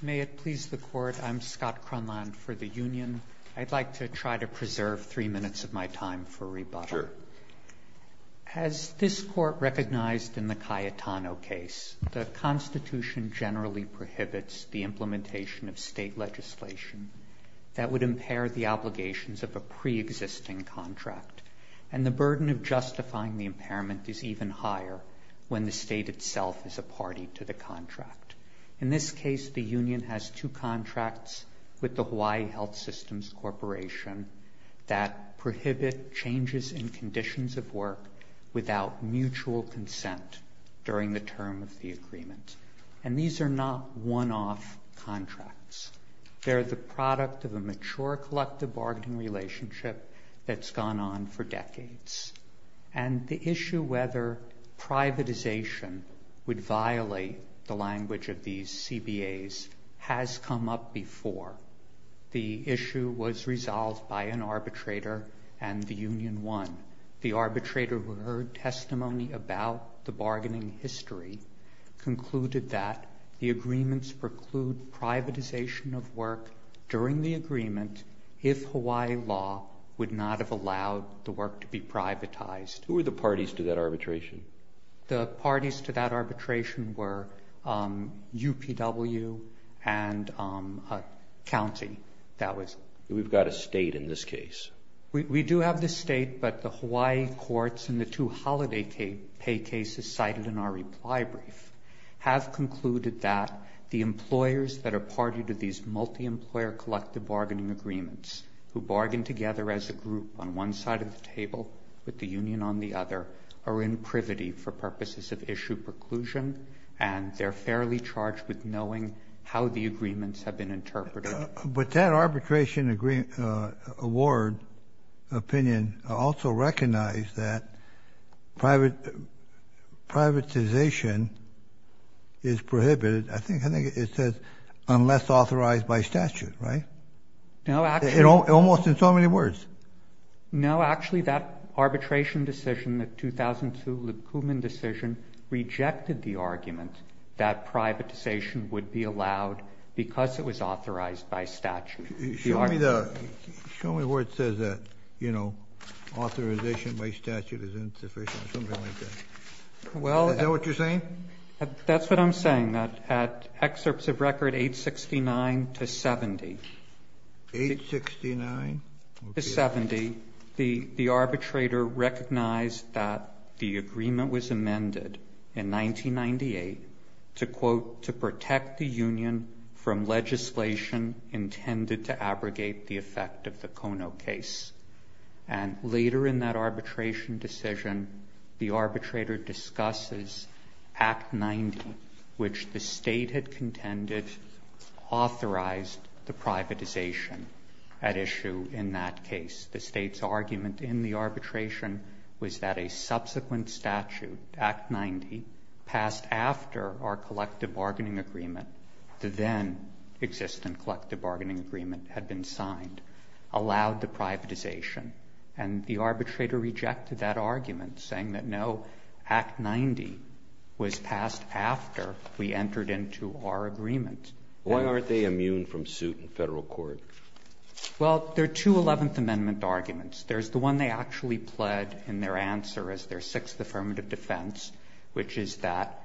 May it please the Court, I'm Scott Cronland for the Union. I'd like to try to preserve three minutes of my time for rebuttal. Sure. As this Court recognized in the Cayetano case, the Constitution generally prohibits the implementation of state legislation that would impair the obligations of a pre-existing contract, and the burden of justifying the impairment is even higher when the state itself is a party to the contract. In this case, the Union has two contracts with the Hawaii Health Systems Corporation that prohibit changes in conditions of work without mutual consent during the term of the agreement. And these are not one-off contracts. They're the product of a mature collective bargaining relationship that's gone on for decades. And the issue whether privatization would violate the language of these CBAs has come up before. The issue was resolved by an arbitrator and the Union won. The arbitrator, who heard testimony about the bargaining history, concluded that the agreements preclude privatization of work during the agreement if Hawaii law would not have allowed the work to be privatized. Who were the parties to that arbitration? The parties to that arbitration were UPW and a county that was... We've got a state in this case. We do have the state, but the Hawaii courts and the two holiday pay cases cited in our reply brief have concluded that the employers that are party to these multi-employer collective bargaining agreements, who bargain together as a group on one side of the table with the Union on the other, are in privity for purposes of issue preclusion and they're fairly charged with knowing how the agreements have been interpreted. But that arbitration award opinion also recognized that privatization is prohibited, I think it says, unless authorized by statute, right? No, actually... Almost in so many words. No, actually that arbitration decision, the 2002 Liebkubin decision, rejected the argument that privatization would be allowed because it was authorized by statute. Show me where it says that authorization by statute is insufficient, something like that. Is that what you're saying? That's what I'm saying. That at excerpts of record 869 to 70, the arbitrator recognized that the agreement was to quote, to protect the Union from legislation intended to abrogate the effect of the Kono case. And later in that arbitration decision, the arbitrator discusses Act 90, which the state had contended authorized the privatization at issue in that case. The state's argument in the arbitration was that a subsequent statute, Act 90, passed after our collective bargaining agreement, the then-existent collective bargaining agreement had been signed, allowed the privatization. And the arbitrator rejected that argument, saying that no, Act 90 was passed after we entered into our agreement. Why aren't they immune from suit in federal court? Well, there are two Eleventh Amendment arguments. There's the one they actually pled in their answer as their sixth affirmative defense, which is that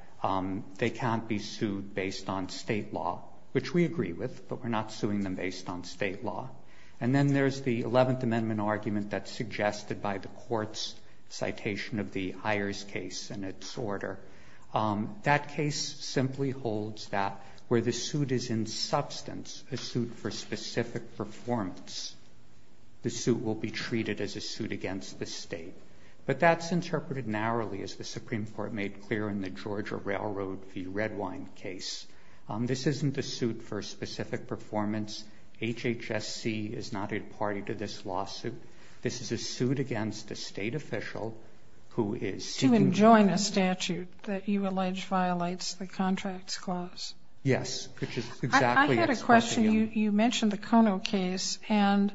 they can't be sued based on state law, which we agree with, but we're not suing them based on state law. And then there's the Eleventh Amendment argument that's suggested by the Court's citation of the Ayers case and its order. That case simply holds that where the suit is in substance, a suit for specific performance, the suit will be treated as a suit against the state. But that's interpreted narrowly, as the Supreme Court made clear in the Georgia Railroad v. Redwine case. This isn't a suit for specific performance. HHSC is not a party to this lawsuit. This is a suit against a state official who is seeking to- That you allege violates the Contracts Clause. Yes, which is exactly- I had a question. You mentioned the Kono case, and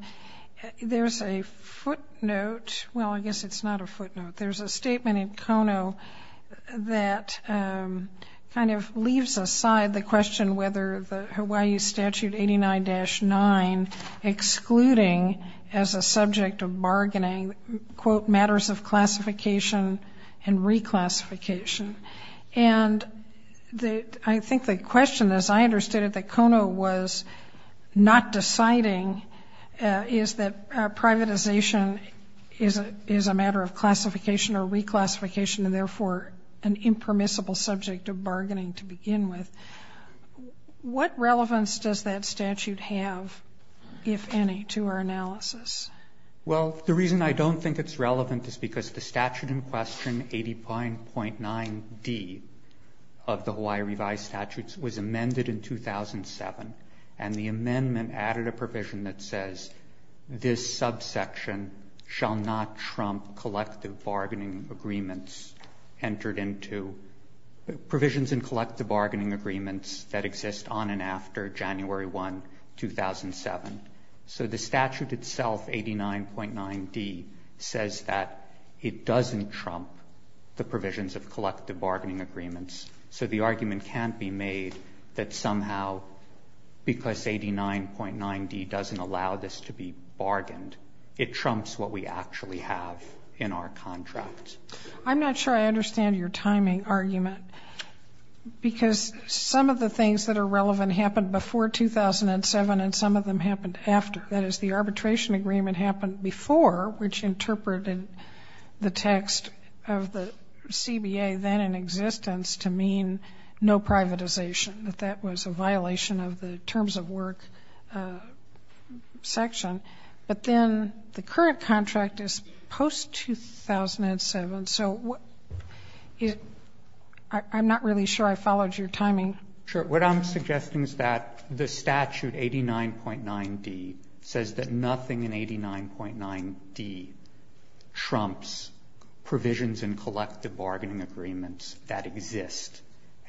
there's a footnote. Well, I guess it's not a footnote. There's a statement in Kono that kind of leaves aside the question whether the Hawaii statute 89-9, excluding as a subject of bargaining, quote, And I think the question, as I understood it, that Kono was not deciding is that privatization is a matter of classification or reclassification, and therefore an impermissible subject of bargaining to begin with. What relevance does that statute have, if any, to our analysis? Well, the reason I don't think it's relevant is because the statute in question, 89.9d of the Hawaii revised statutes, was amended in 2007. And the amendment added a provision that says, This subsection shall not trump collective bargaining agreements entered into provisions in collective bargaining agreements that exist on and after January 1, 2007. So the statute itself, 89.9d, says that it doesn't trump the provisions of collective bargaining agreements. So the argument can't be made that somehow, because 89.9d doesn't allow this to be bargained, it trumps what we actually have in our contract. I'm not sure I understand your timing argument, because some of the things that are relevant happened before 2007, and some of them happened after. That is, the arbitration agreement happened before, which interpreted the text of the CBA, then in existence, to mean no privatization, that that was a violation of the terms of work section. But then the current contract is post-2007, so I'm not really sure I followed your timing. Sure. What I'm suggesting is that the statute, 89.9d, says that nothing in 89.9d trumps provisions in collective bargaining agreements that exist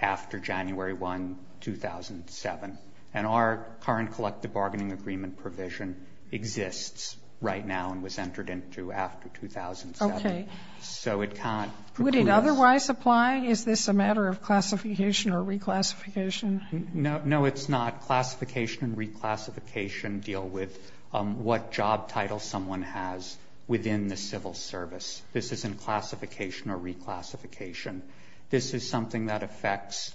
after January 1, 2007. And our current collective bargaining agreement provision exists right now and was entered into after 2007. Okay. So it can't preclude us. Would it otherwise apply? Is this a matter of classification or reclassification? No, it's not. Classification and reclassification deal with what job title someone has within the civil service. This isn't classification or reclassification. This is something that affects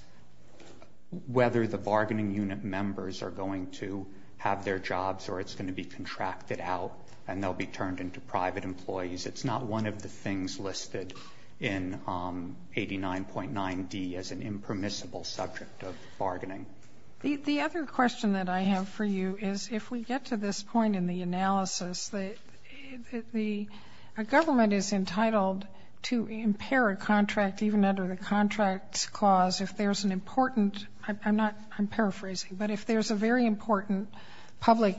whether the bargaining unit members are going to have their jobs or it's going to be contracted out and they'll be turned into private employees. It's not one of the things listed in 89.9d as an impermissible subject of bargaining. The other question that I have for you is if we get to this point in the analysis, the government is entitled to impair a contract even under the contracts clause if there's an important, I'm paraphrasing, but if there's a very important public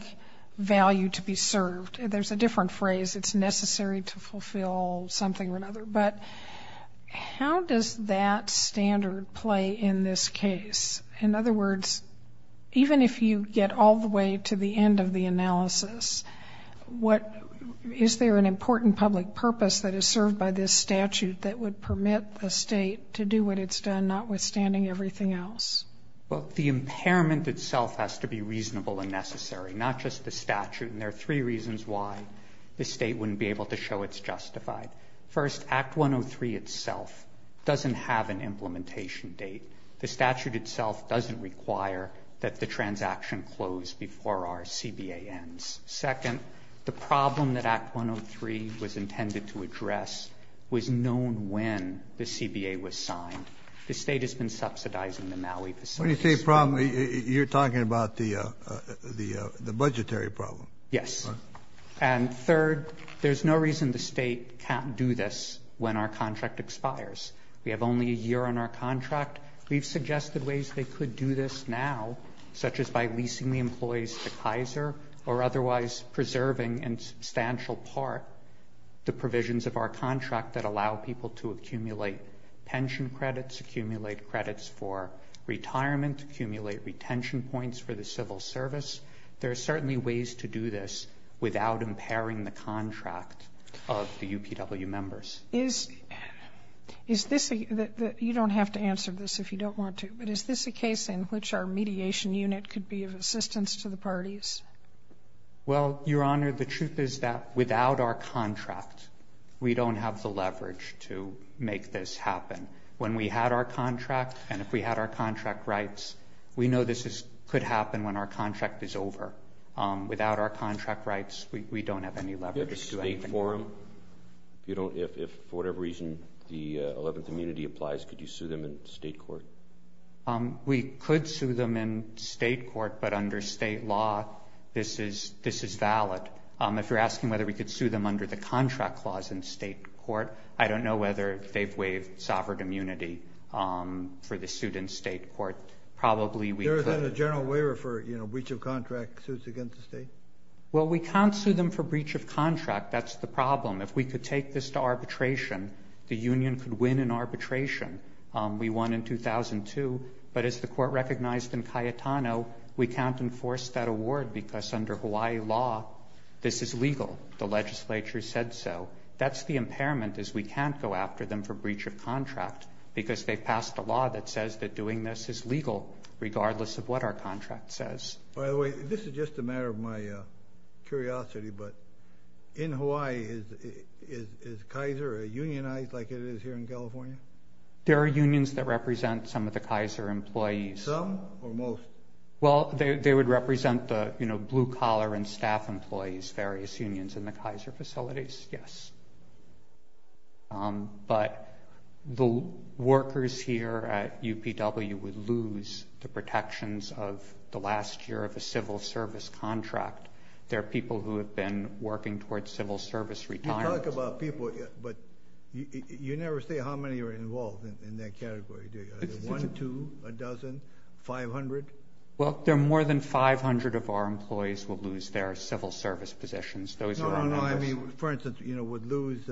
value to be served, there's a different phrase, it's necessary to fulfill something or another. But how does that standard play in this case? In other words, even if you get all the way to the end of the analysis, is there an important public purpose that is served by this statute that would permit the state to do what it's done notwithstanding everything else? Well, the impairment itself has to be reasonable and necessary, not just the three reasons why the state wouldn't be able to show it's justified. First, Act 103 itself doesn't have an implementation date. The statute itself doesn't require that the transaction close before our CBA ends. Second, the problem that Act 103 was intended to address was known when the CBA was signed. The state has been subsidizing the Maui facilities. When you say problem, you're talking about the budgetary problem. Yes. And third, there's no reason the state can't do this when our contract expires. We have only a year on our contract. We've suggested ways they could do this now, such as by leasing the employees to Kaiser or otherwise preserving in substantial part the provisions of our contract that allow people to accumulate pension credits, accumulate credits for retirement, accumulate retention points for the civil service. There are certainly ways to do this without impairing the contract of the UPW members. Is this a, you don't have to answer this if you don't want to, but is this a case in which our mediation unit could be of assistance to the parties? Well, Your Honor, the truth is that without our contract, we don't have the leverage to make this happen. When we had our contract and if we had our contract rights, we know this could happen when our contract is over. Without our contract rights, we don't have any leverage to make it happen. Do you have a state forum? If you don't, if for whatever reason the 11th immunity applies, could you sue them in state court? We could sue them in state court, but under state law, this is valid. If you're asking whether we could sue them under the contract clause in state court, I don't know whether they've waived sovereign immunity for the suit in state court. Probably we could. Is that a general waiver for breach of contract suits against the state? Well, we can't sue them for breach of contract. That's the problem. If we could take this to arbitration, the union could win in arbitration. We won in 2002, but as the court recognized in Cayetano, we can't enforce that award because under Hawaii law, this is legal. The legislature said so. That's the impairment is we can't go after them for breach of contract because they've regardless of what our contract says. By the way, this is just a matter of my curiosity, but in Hawaii, is Kaiser a unionized like it is here in California? There are unions that represent some of the Kaiser employees. Some or most? Well, they would represent the blue collar and staff employees, various unions in the Kaiser facilities, yes. But the workers here at UPW would lose the protections of the last year of the civil service contract. There are people who have been working towards civil service retirement. You talk about people, but you never say how many are involved in that category. Is it one, two, a dozen, 500? Well, there are more than 500 of our employees will lose their civil service positions. No, no, no. I mean, for instance, would lose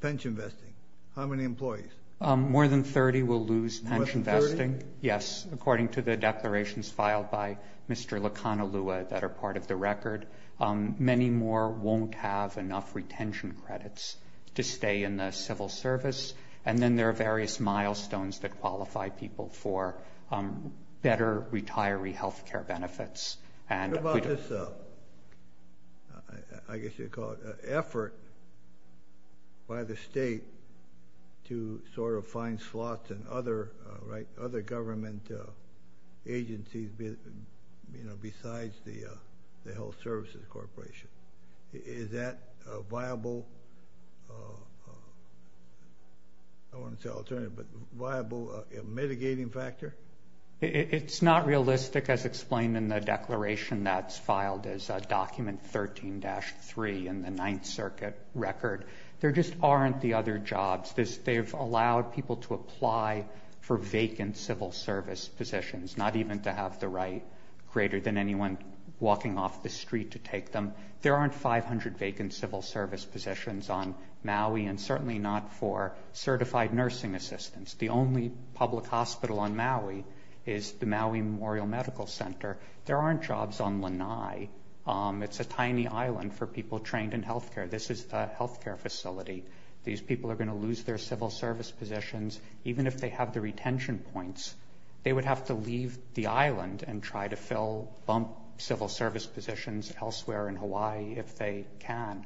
pension vesting. How many employees? More than 30 will lose pension vesting, yes, according to the declarations filed by Mr. Lacanalua that are part of the record. Many more won't have enough retention credits to stay in the civil service. And then there are various milestones that qualify people for better retiree health care benefits. What about this, I guess you'd call it, effort by the state to sort of find slots in other government agencies besides the Health Services Corporation? Is that a viable, I don't want to say alternative, but viable mitigating factor? It's not realistic, as explained in the declaration that's filed as a document 13-3 in the Ninth Circuit record. There just aren't the other jobs. They've allowed people to apply for vacant civil service positions, not even to have the right, greater than anyone walking off the street to take them. There aren't 500 vacant civil service positions on Maui, and certainly not for certified nursing assistants. The only public hospital on Maui is the Maui Memorial Medical Center. There aren't jobs on Lanai. It's a tiny island for people trained in health care. This is a health care facility. These people are going to lose their civil service positions, even if they have the retention points. They would have to leave the island and try to fill, bump civil service positions elsewhere in Hawaii if they can.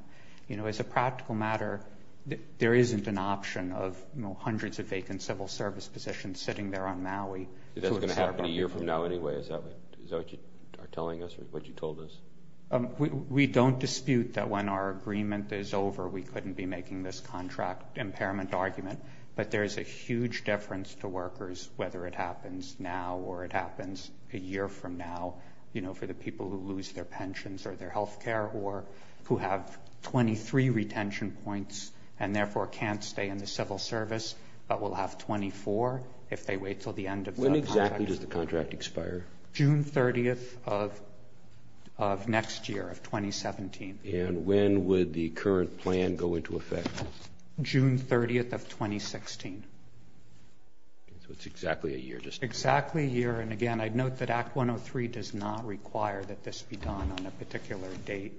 As a practical matter, there isn't an option of hundreds of vacant civil service positions sitting there on Maui. Is that going to happen a year from now anyway? Is that what you are telling us, what you told us? We don't dispute that when our agreement is over, we couldn't be making this contract impairment argument, but there is a huge deference to workers, whether it happens now or it happens a year from now, you know, for the people who lose their pensions or their health care or who have 23 retention points and therefore can't stay in the civil service, but will have 24 if they wait until the end of the contract. When exactly does the contract expire? June 30th of next year, of 2017. And when would the current plan go into effect? June 30th of 2016. So it's exactly a year. Exactly a year. And again, I'd note that Act 103 does not require that this be done on a particular date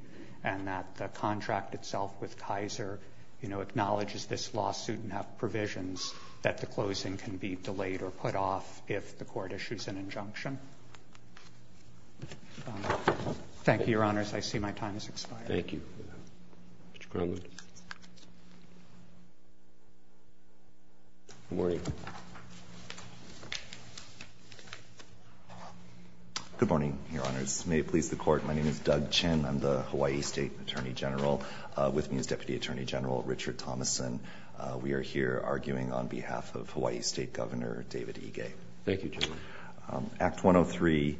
and that the contract itself with Kaiser, you know, acknowledges this lawsuit and have provisions that the closing can be delayed or put off if the court issues an injunction. Thank you, your honors. I see my time has expired. Thank you. Mr. Cronwood. Good morning. Your honors, may it please the court, my name is Doug Chen. I'm the Hawaii State Attorney General. With me is Deputy Attorney General Richard Thomason. We are here arguing on behalf of Hawaii State Governor David Ige. Thank you, General. Act 103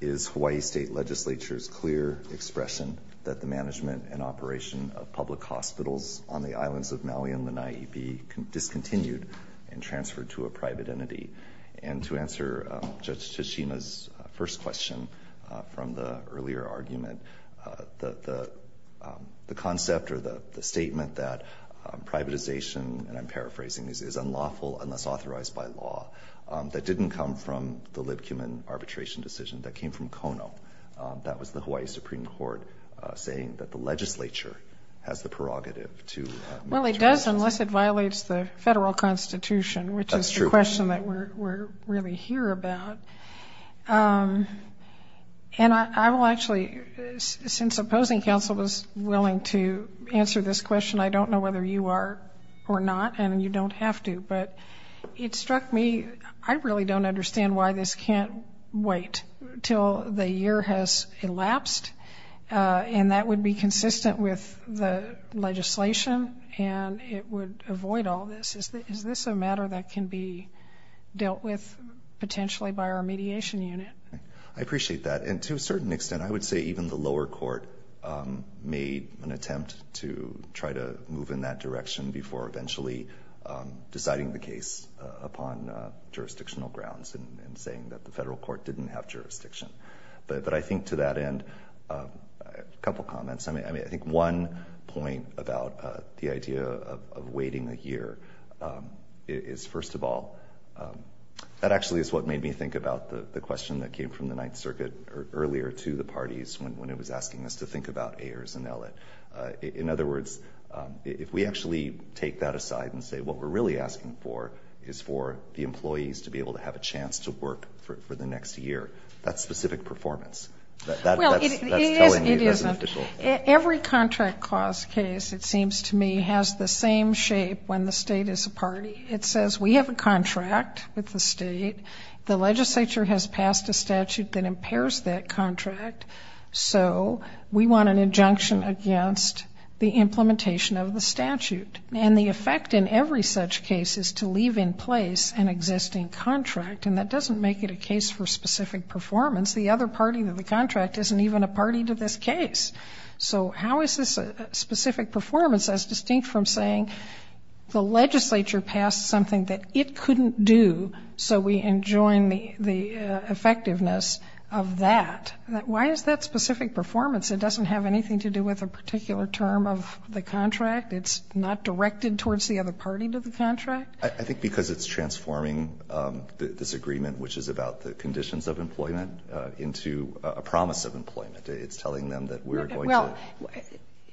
is Hawaii State Legislature's clear expression that the management and operation of public hospitals on the islands of Maui and Lanai be discontinued and transferred to a private entity. And to answer Judge Toshima's first question from the earlier argument, the concept or the statement that privatization, and I'm paraphrasing this, is unlawful unless authorized by law, that didn't come from the Libkuman arbitration decision, that came from Kono. That was the Hawaii Supreme Court saying that the legislature has the prerogative to... Well, it does unless it violates the federal constitution, which is the question that we're really here about. And I will actually, since opposing counsel was willing to answer this question, I don't know whether you are or not, and you don't have to, but it struck me, I really don't understand why this can't wait till the year has elapsed, and that would be consistent with the legislation, and it would avoid all this. Is this a matter that can be dealt with potentially by our mediation unit? I appreciate that. And to a certain extent, I would say even the lower court made an attempt to try to the federal court didn't have jurisdiction, but I think to that end, a couple of comments. I think one point about the idea of waiting a year is, first of all, that actually is what made me think about the question that came from the Ninth Circuit earlier to the parties when it was asking us to think about Ayers and Ellett. In other words, if we actually take that aside and say what we're really asking for is for the employees to be able to have a chance to work for the next year, that specific performance. Well, it isn't. Every contract clause case, it seems to me, has the same shape when the state is a party. It says we have a contract with the state, the legislature has passed a statute that impairs that contract, so we want an injunction against the implementation of the statute. And the effect in every such case is to leave in place an existing contract, and that doesn't make it a case for specific performance. The other party to the contract isn't even a party to this case. So how is this specific performance as distinct from saying the legislature passed something that it couldn't do, so we enjoin the effectiveness of that? Why is that specific performance? It doesn't have anything to do with a particular term of the contract. It's not directed towards the other party to the contract? I think because it's transforming this agreement, which is about the conditions of employment, into a promise of employment. It's telling them that we're going to-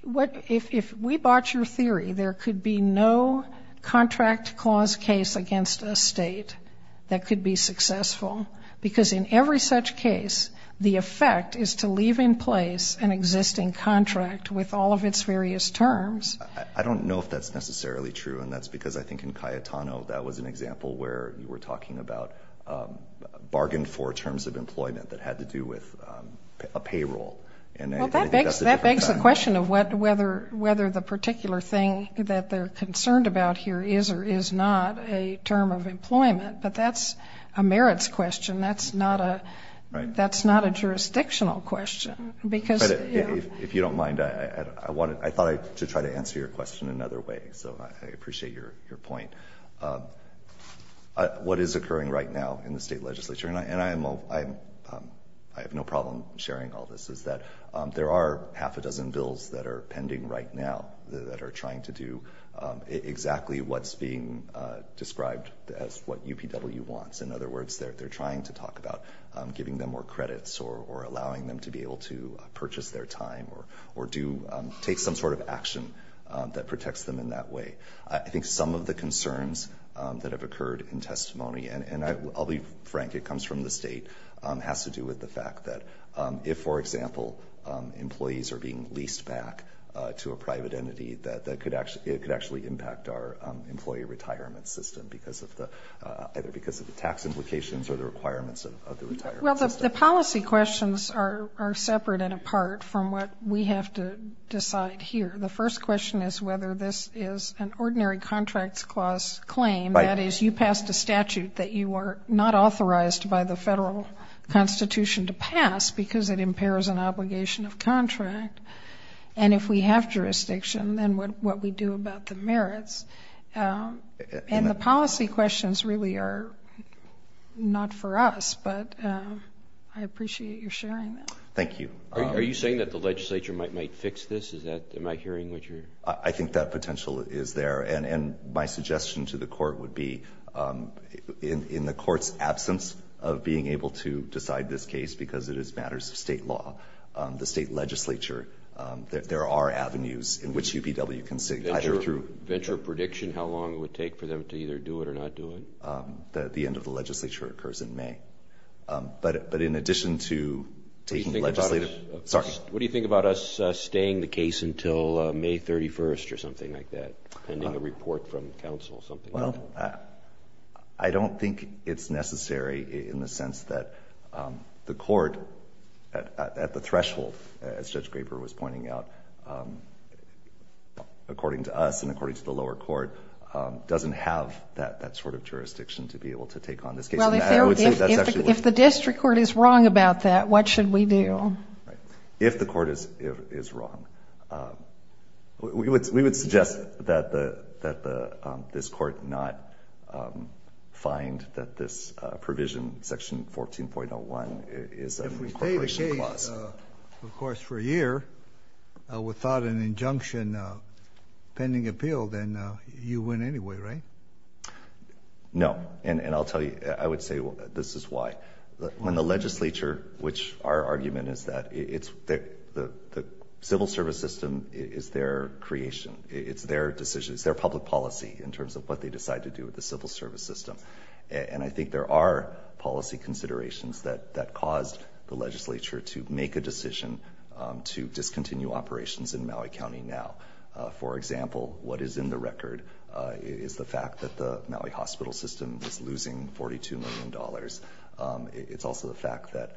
Well, if we bought your theory, there could be no contract clause case against a state that could be successful, because in every such case, the effect is to leave in place an existing contract with all of its various terms. I don't know if that's necessarily true, and that's because I think in Cayetano, that was an example where you were talking about a bargain for terms of employment that had to do with a payroll. Well, that begs the question of whether the particular thing that they're concerned about here is or is not a term of employment, but that's a merits question. That's not a jurisdictional question, because- If you don't mind, I thought I should try to answer your question in another way, so I appreciate your point. What is occurring right now in the state legislature, and I have no problem sharing all this, is that there are half a dozen bills that are pending right now that are trying to do exactly what's being described as what UPW wants. In other words, they're trying to talk about giving them more credits or allowing them to be able to purchase their time or take some sort of action that protects them in that way. I think some of the concerns that have occurred in testimony, and I'll be frank, it comes from the state, has to do with the fact that if, for example, employees are being leased back to a private entity, that it could actually impact our employee retirement system, either because of the tax implications or the requirements of the retirement system. Well, the policy questions are separate and apart from what we have to decide here. The first question is whether this is an ordinary contracts clause claim, that is, you passed a statute that you are not authorized by the federal constitution to pass, because it impairs an obligation of contract, and if we have jurisdiction, then what we do about the merits? And the policy questions really are not for us, but I appreciate your sharing that. Thank you. Are you saying that the legislature might fix this? Am I hearing what you're... I think that potential is there, and my suggestion to the court would be, in the court's absence of being able to decide this case, because it is matters of state law, the state legislature, there are avenues in which UPW can sit, either through... Venture prediction, how long it would take for them to either do it or not do it? The end of the legislature occurs in May, but in addition to taking the legislative... Sorry. What do you think about us staying the case until May 31st or something like that, pending a report from counsel, something like that? I don't think it's necessary in the sense that the court, at the threshold, as Judge of the lower court, doesn't have that sort of jurisdiction to be able to take on this case. Well, if the district court is wrong about that, what should we do? If the court is wrong, we would suggest that this court not find that this provision, section 14.01, is an incorporation clause. Of course, for a year, without an injunction, pending appeal, then you win anyway, right? No. And I'll tell you, I would say this is why. When the legislature, which our argument is that the civil service system is their creation, it's their decision, it's their public policy in terms of what they decide to do with the civil service system. And I think there are policy considerations that caused the legislature to make a decision to discontinue operations in Maui County now. For example, what is in the record is the fact that the Maui hospital system is losing $42 million. It's also the fact that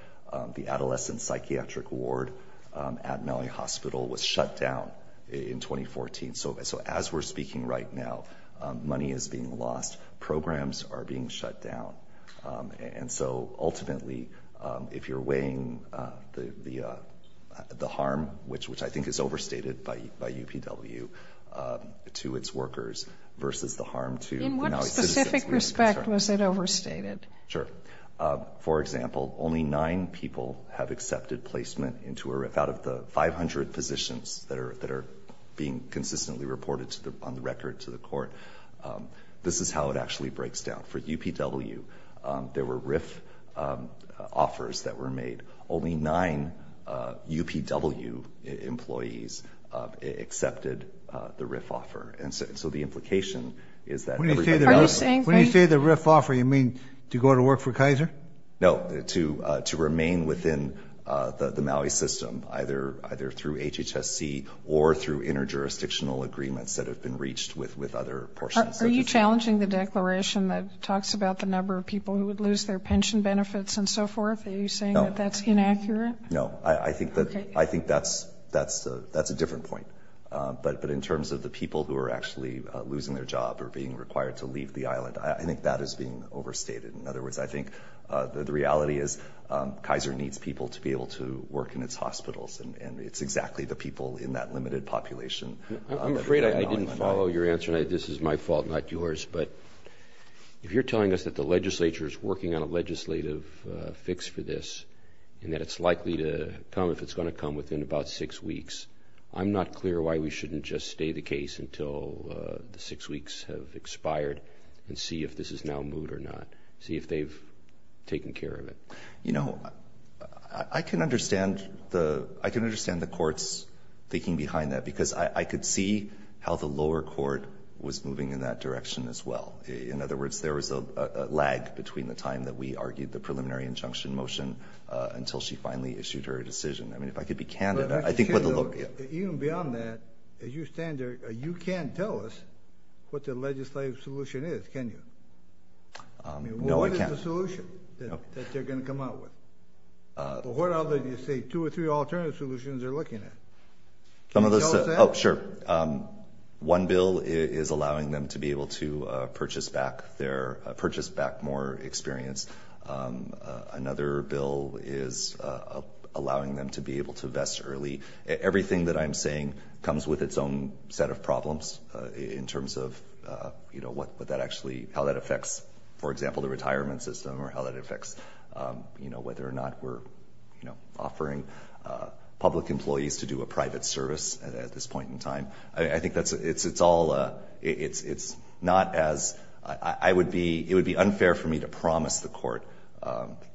the adolescent psychiatric ward at Maui Hospital was shut down in 2014. So as we're speaking right now, money is being lost, programs are being shut down. And so ultimately, if you're weighing the harm, which I think is overstated by UPW, to its workers versus the harm to Maui citizens. In what specific respect was it overstated? Sure. For example, only nine people have accepted placement into or out of the 500 physicians that are being consistently reported on the record to the court. This is how it actually breaks down. For UPW, there were RIF offers that were made. Only nine UPW employees accepted the RIF offer. And so the implication is that everybody else... Are you saying that... When you say the RIF offer, you mean to go to work for Kaiser? No, to remain within the Maui system, either through HHSC or through inter-jurisdictional agreements that have been reached with other portions of the state. Are you challenging the declaration that talks about the number of people who would lose their pension benefits and so forth? Are you saying that that's inaccurate? No, I think that's a different point. But in terms of the people who are actually losing their job or being required to leave the island, I think that is being overstated. In other words, I think the reality is Kaiser needs people to be able to work in its hospitals and it's exactly the people in that limited population... I'm afraid I didn't follow your answer and this is my fault, not yours, but if you're telling us that the legislature is working on a legislative fix for this and that it's likely to come, if it's going to come, within about six weeks, I'm not clear why we shouldn't just stay the case until the six weeks have expired and see if this is now moot or not. See if they've taken care of it. You know, I can understand the court's thinking behind that because I could see how the lower court was moving in that direction as well. In other words, there was a lag between the time that we argued the preliminary injunction motion until she finally issued her decision. I mean, if I could be candid, I think what the... Even beyond that, as you stand there, you can't tell us what the legislative solution is, can you? I mean, what is the solution that they're going to come out with? But what other, you say, two or three alternative solutions they're looking at? Can you tell us that? Oh, sure. One bill is allowing them to be able to purchase back more experience. Another bill is allowing them to be able to invest early. Everything that I'm saying comes with its own set of problems in terms of, you know, what that actually... How that affects, for example, the retirement system or how that affects, you know, whether or not we're, you know, offering public employees to do a private service at this point in time. I think that's... It's all... It's not as... I would be... It would be unfair for me to promise the court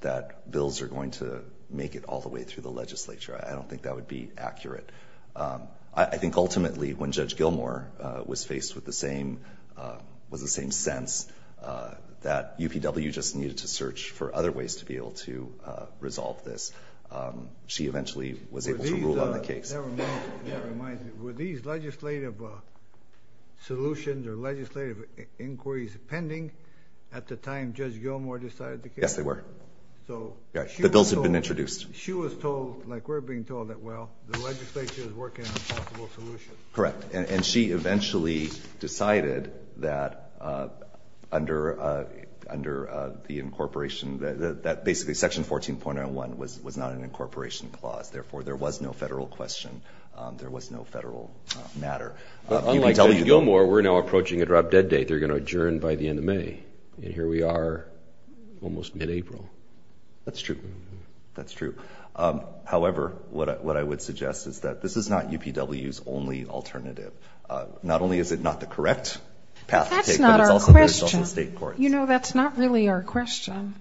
that bills are going to make it all the way through the legislature. I don't think that would be accurate. I think, ultimately, when Judge Gilmour was faced with the same... Was the same sense that UPW just needed to search for other ways to be able to resolve this. She eventually was able to rule on the case. That reminds me. Were these legislative solutions or legislative inquiries pending at the time Judge Gilmour decided the case? Yes, they were. So... The bills had been introduced. She was told, like we're being told, that, well, the legislature is working on a possible solution. Correct. And she eventually decided that, under the incorporation, that basically Section 14.01 was not an incorporation clause, therefore, there was no federal question, there was no federal matter. Unlike Judge Gilmour, we're now approaching a drop-dead date. They're going to adjourn by the end of May, and here we are almost mid-April. That's true. That's true. However, what I would suggest is that this is not UPW's only alternative. Not only is it not the correct path to take, but it's also the result of state courts. You know, that's not really our question.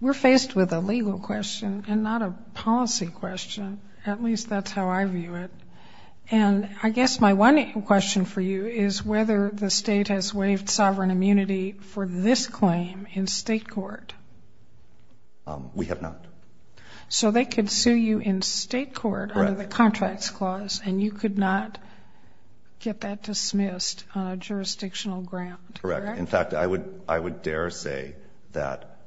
We're faced with a legal question and not a policy question. At least that's how I view it. And I guess my one question for you is whether the state has waived sovereign immunity for this claim in state court. We have not. So they could sue you in state court under the Contracts Clause, and you could not get that dismissed on a jurisdictional ground. Correct. In fact, I would dare say that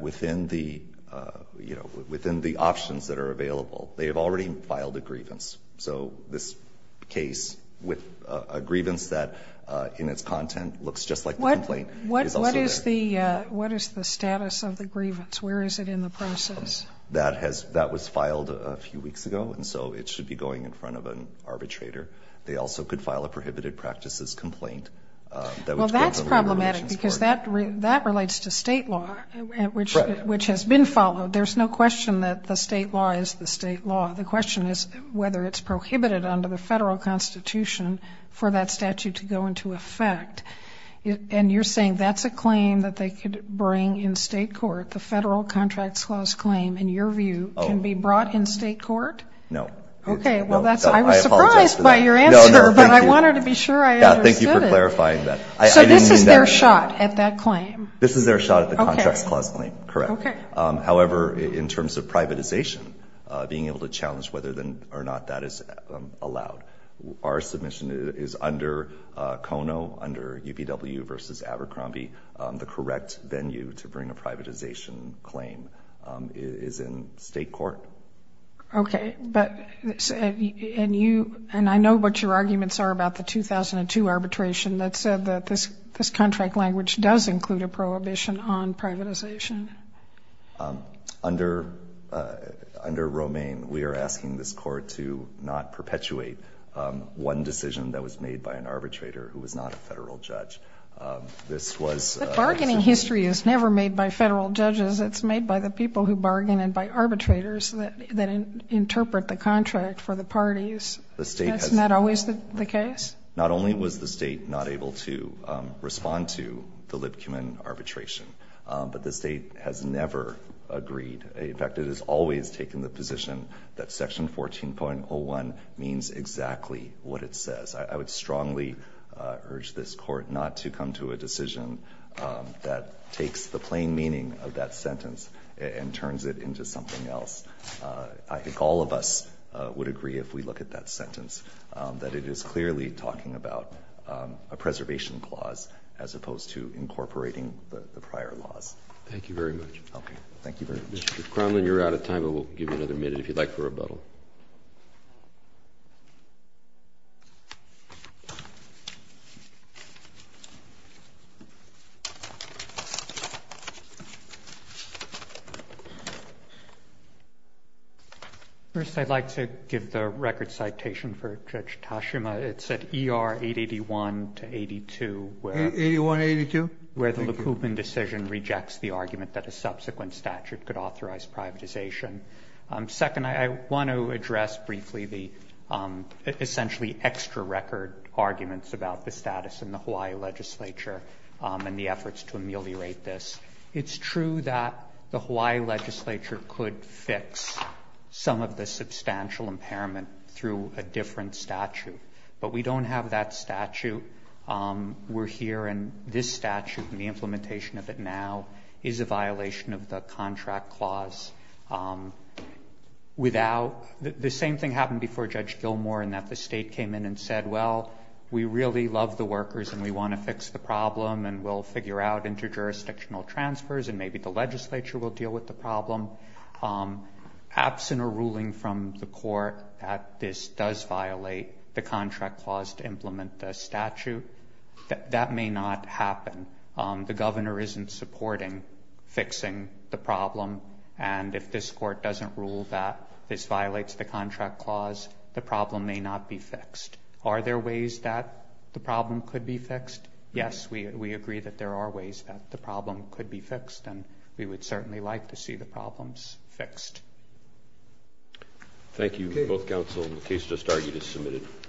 within the options that are available, they have already filed a grievance. So this case, with a grievance that, in its content, looks just like the complaint, is also there. What is the status of the grievance? Where is it in the process? That was filed a few weeks ago, and so it should be going in front of an arbitrator. They also could file a prohibited practices complaint. Well, that's problematic because that relates to state law, which has been followed. There's no question that the state law is the state law. The question is whether it's prohibited under the federal constitution for that statute to go into effect. And you're saying that's a claim that they could bring in state court, the Federal Contracts Clause claim, in your view, can be brought in state court? No. Okay, well, I was surprised by your answer, but I wanted to be sure I understood it. Thank you for clarifying that. So this is their shot at that claim? This is their shot at the Contracts Clause claim, correct. However, in terms of privatization, being able to challenge whether or not that is allowed. Our submission is under CONO, under UPW versus Abercrombie. The correct venue to bring a privatization claim is in state court. Okay. And I know what your arguments are about the 2002 arbitration that said that this contract language does include a prohibition on privatization. Under Romaine, we are asking this court to not perpetuate one decision that was made by an arbitrator who was not a federal judge. This was... But bargaining history is never made by federal judges. It's made by the people who bargain and by arbitrators that interpret the contract for the parties. That's not always the case? Not only was the state not able to respond to the Lipkuman arbitration, but the state has never agreed. In fact, it has always taken the position that Section 14.01 means exactly what it says. I would strongly urge this court not to come to a decision that takes the plain meaning of that sentence and turns it into something else. I think all of us would agree, if we look at that sentence, that it is clearly talking about a preservation clause as opposed to incorporating the prior laws. Thank you very much. Okay. Thank you very much. Mr. Cromlin, you're out of time, but we'll give you another minute if you'd like for a rebuttal. First, I'd like to give the record citation for Judge Tashima. It's at ER 881-82, where the Lipkuman decision rejects the argument that a subsequent statute could authorize privatization. Second, I want to address briefly the essentially extra record arguments about the status in the Hawaii legislature and the efforts to ameliorate this. It's true that the Hawaii legislature could fix some of the substantial impairment through a different statute, but we don't have that statute. We're here and this statute and the implementation of it now is a violation of the contract clause. The same thing happened before Judge Gilmour in that the state came in and said, well, we really love the workers and we want to fix the problem and we'll figure out inter-jurisdictional transfers and maybe the legislature will deal with the problem. Absent a ruling from the court that this does violate the contract clause to implement the statute, that may not happen. The governor isn't supporting fixing the problem and if this court doesn't rule that this violates the contract clause, the problem may not be fixed. Are there ways that the problem could be fixed? Yes, we agree that there are ways that the problem could be fixed and we would certainly like to see the problems fixed. Thank you both counsel. The case just argued is submitted.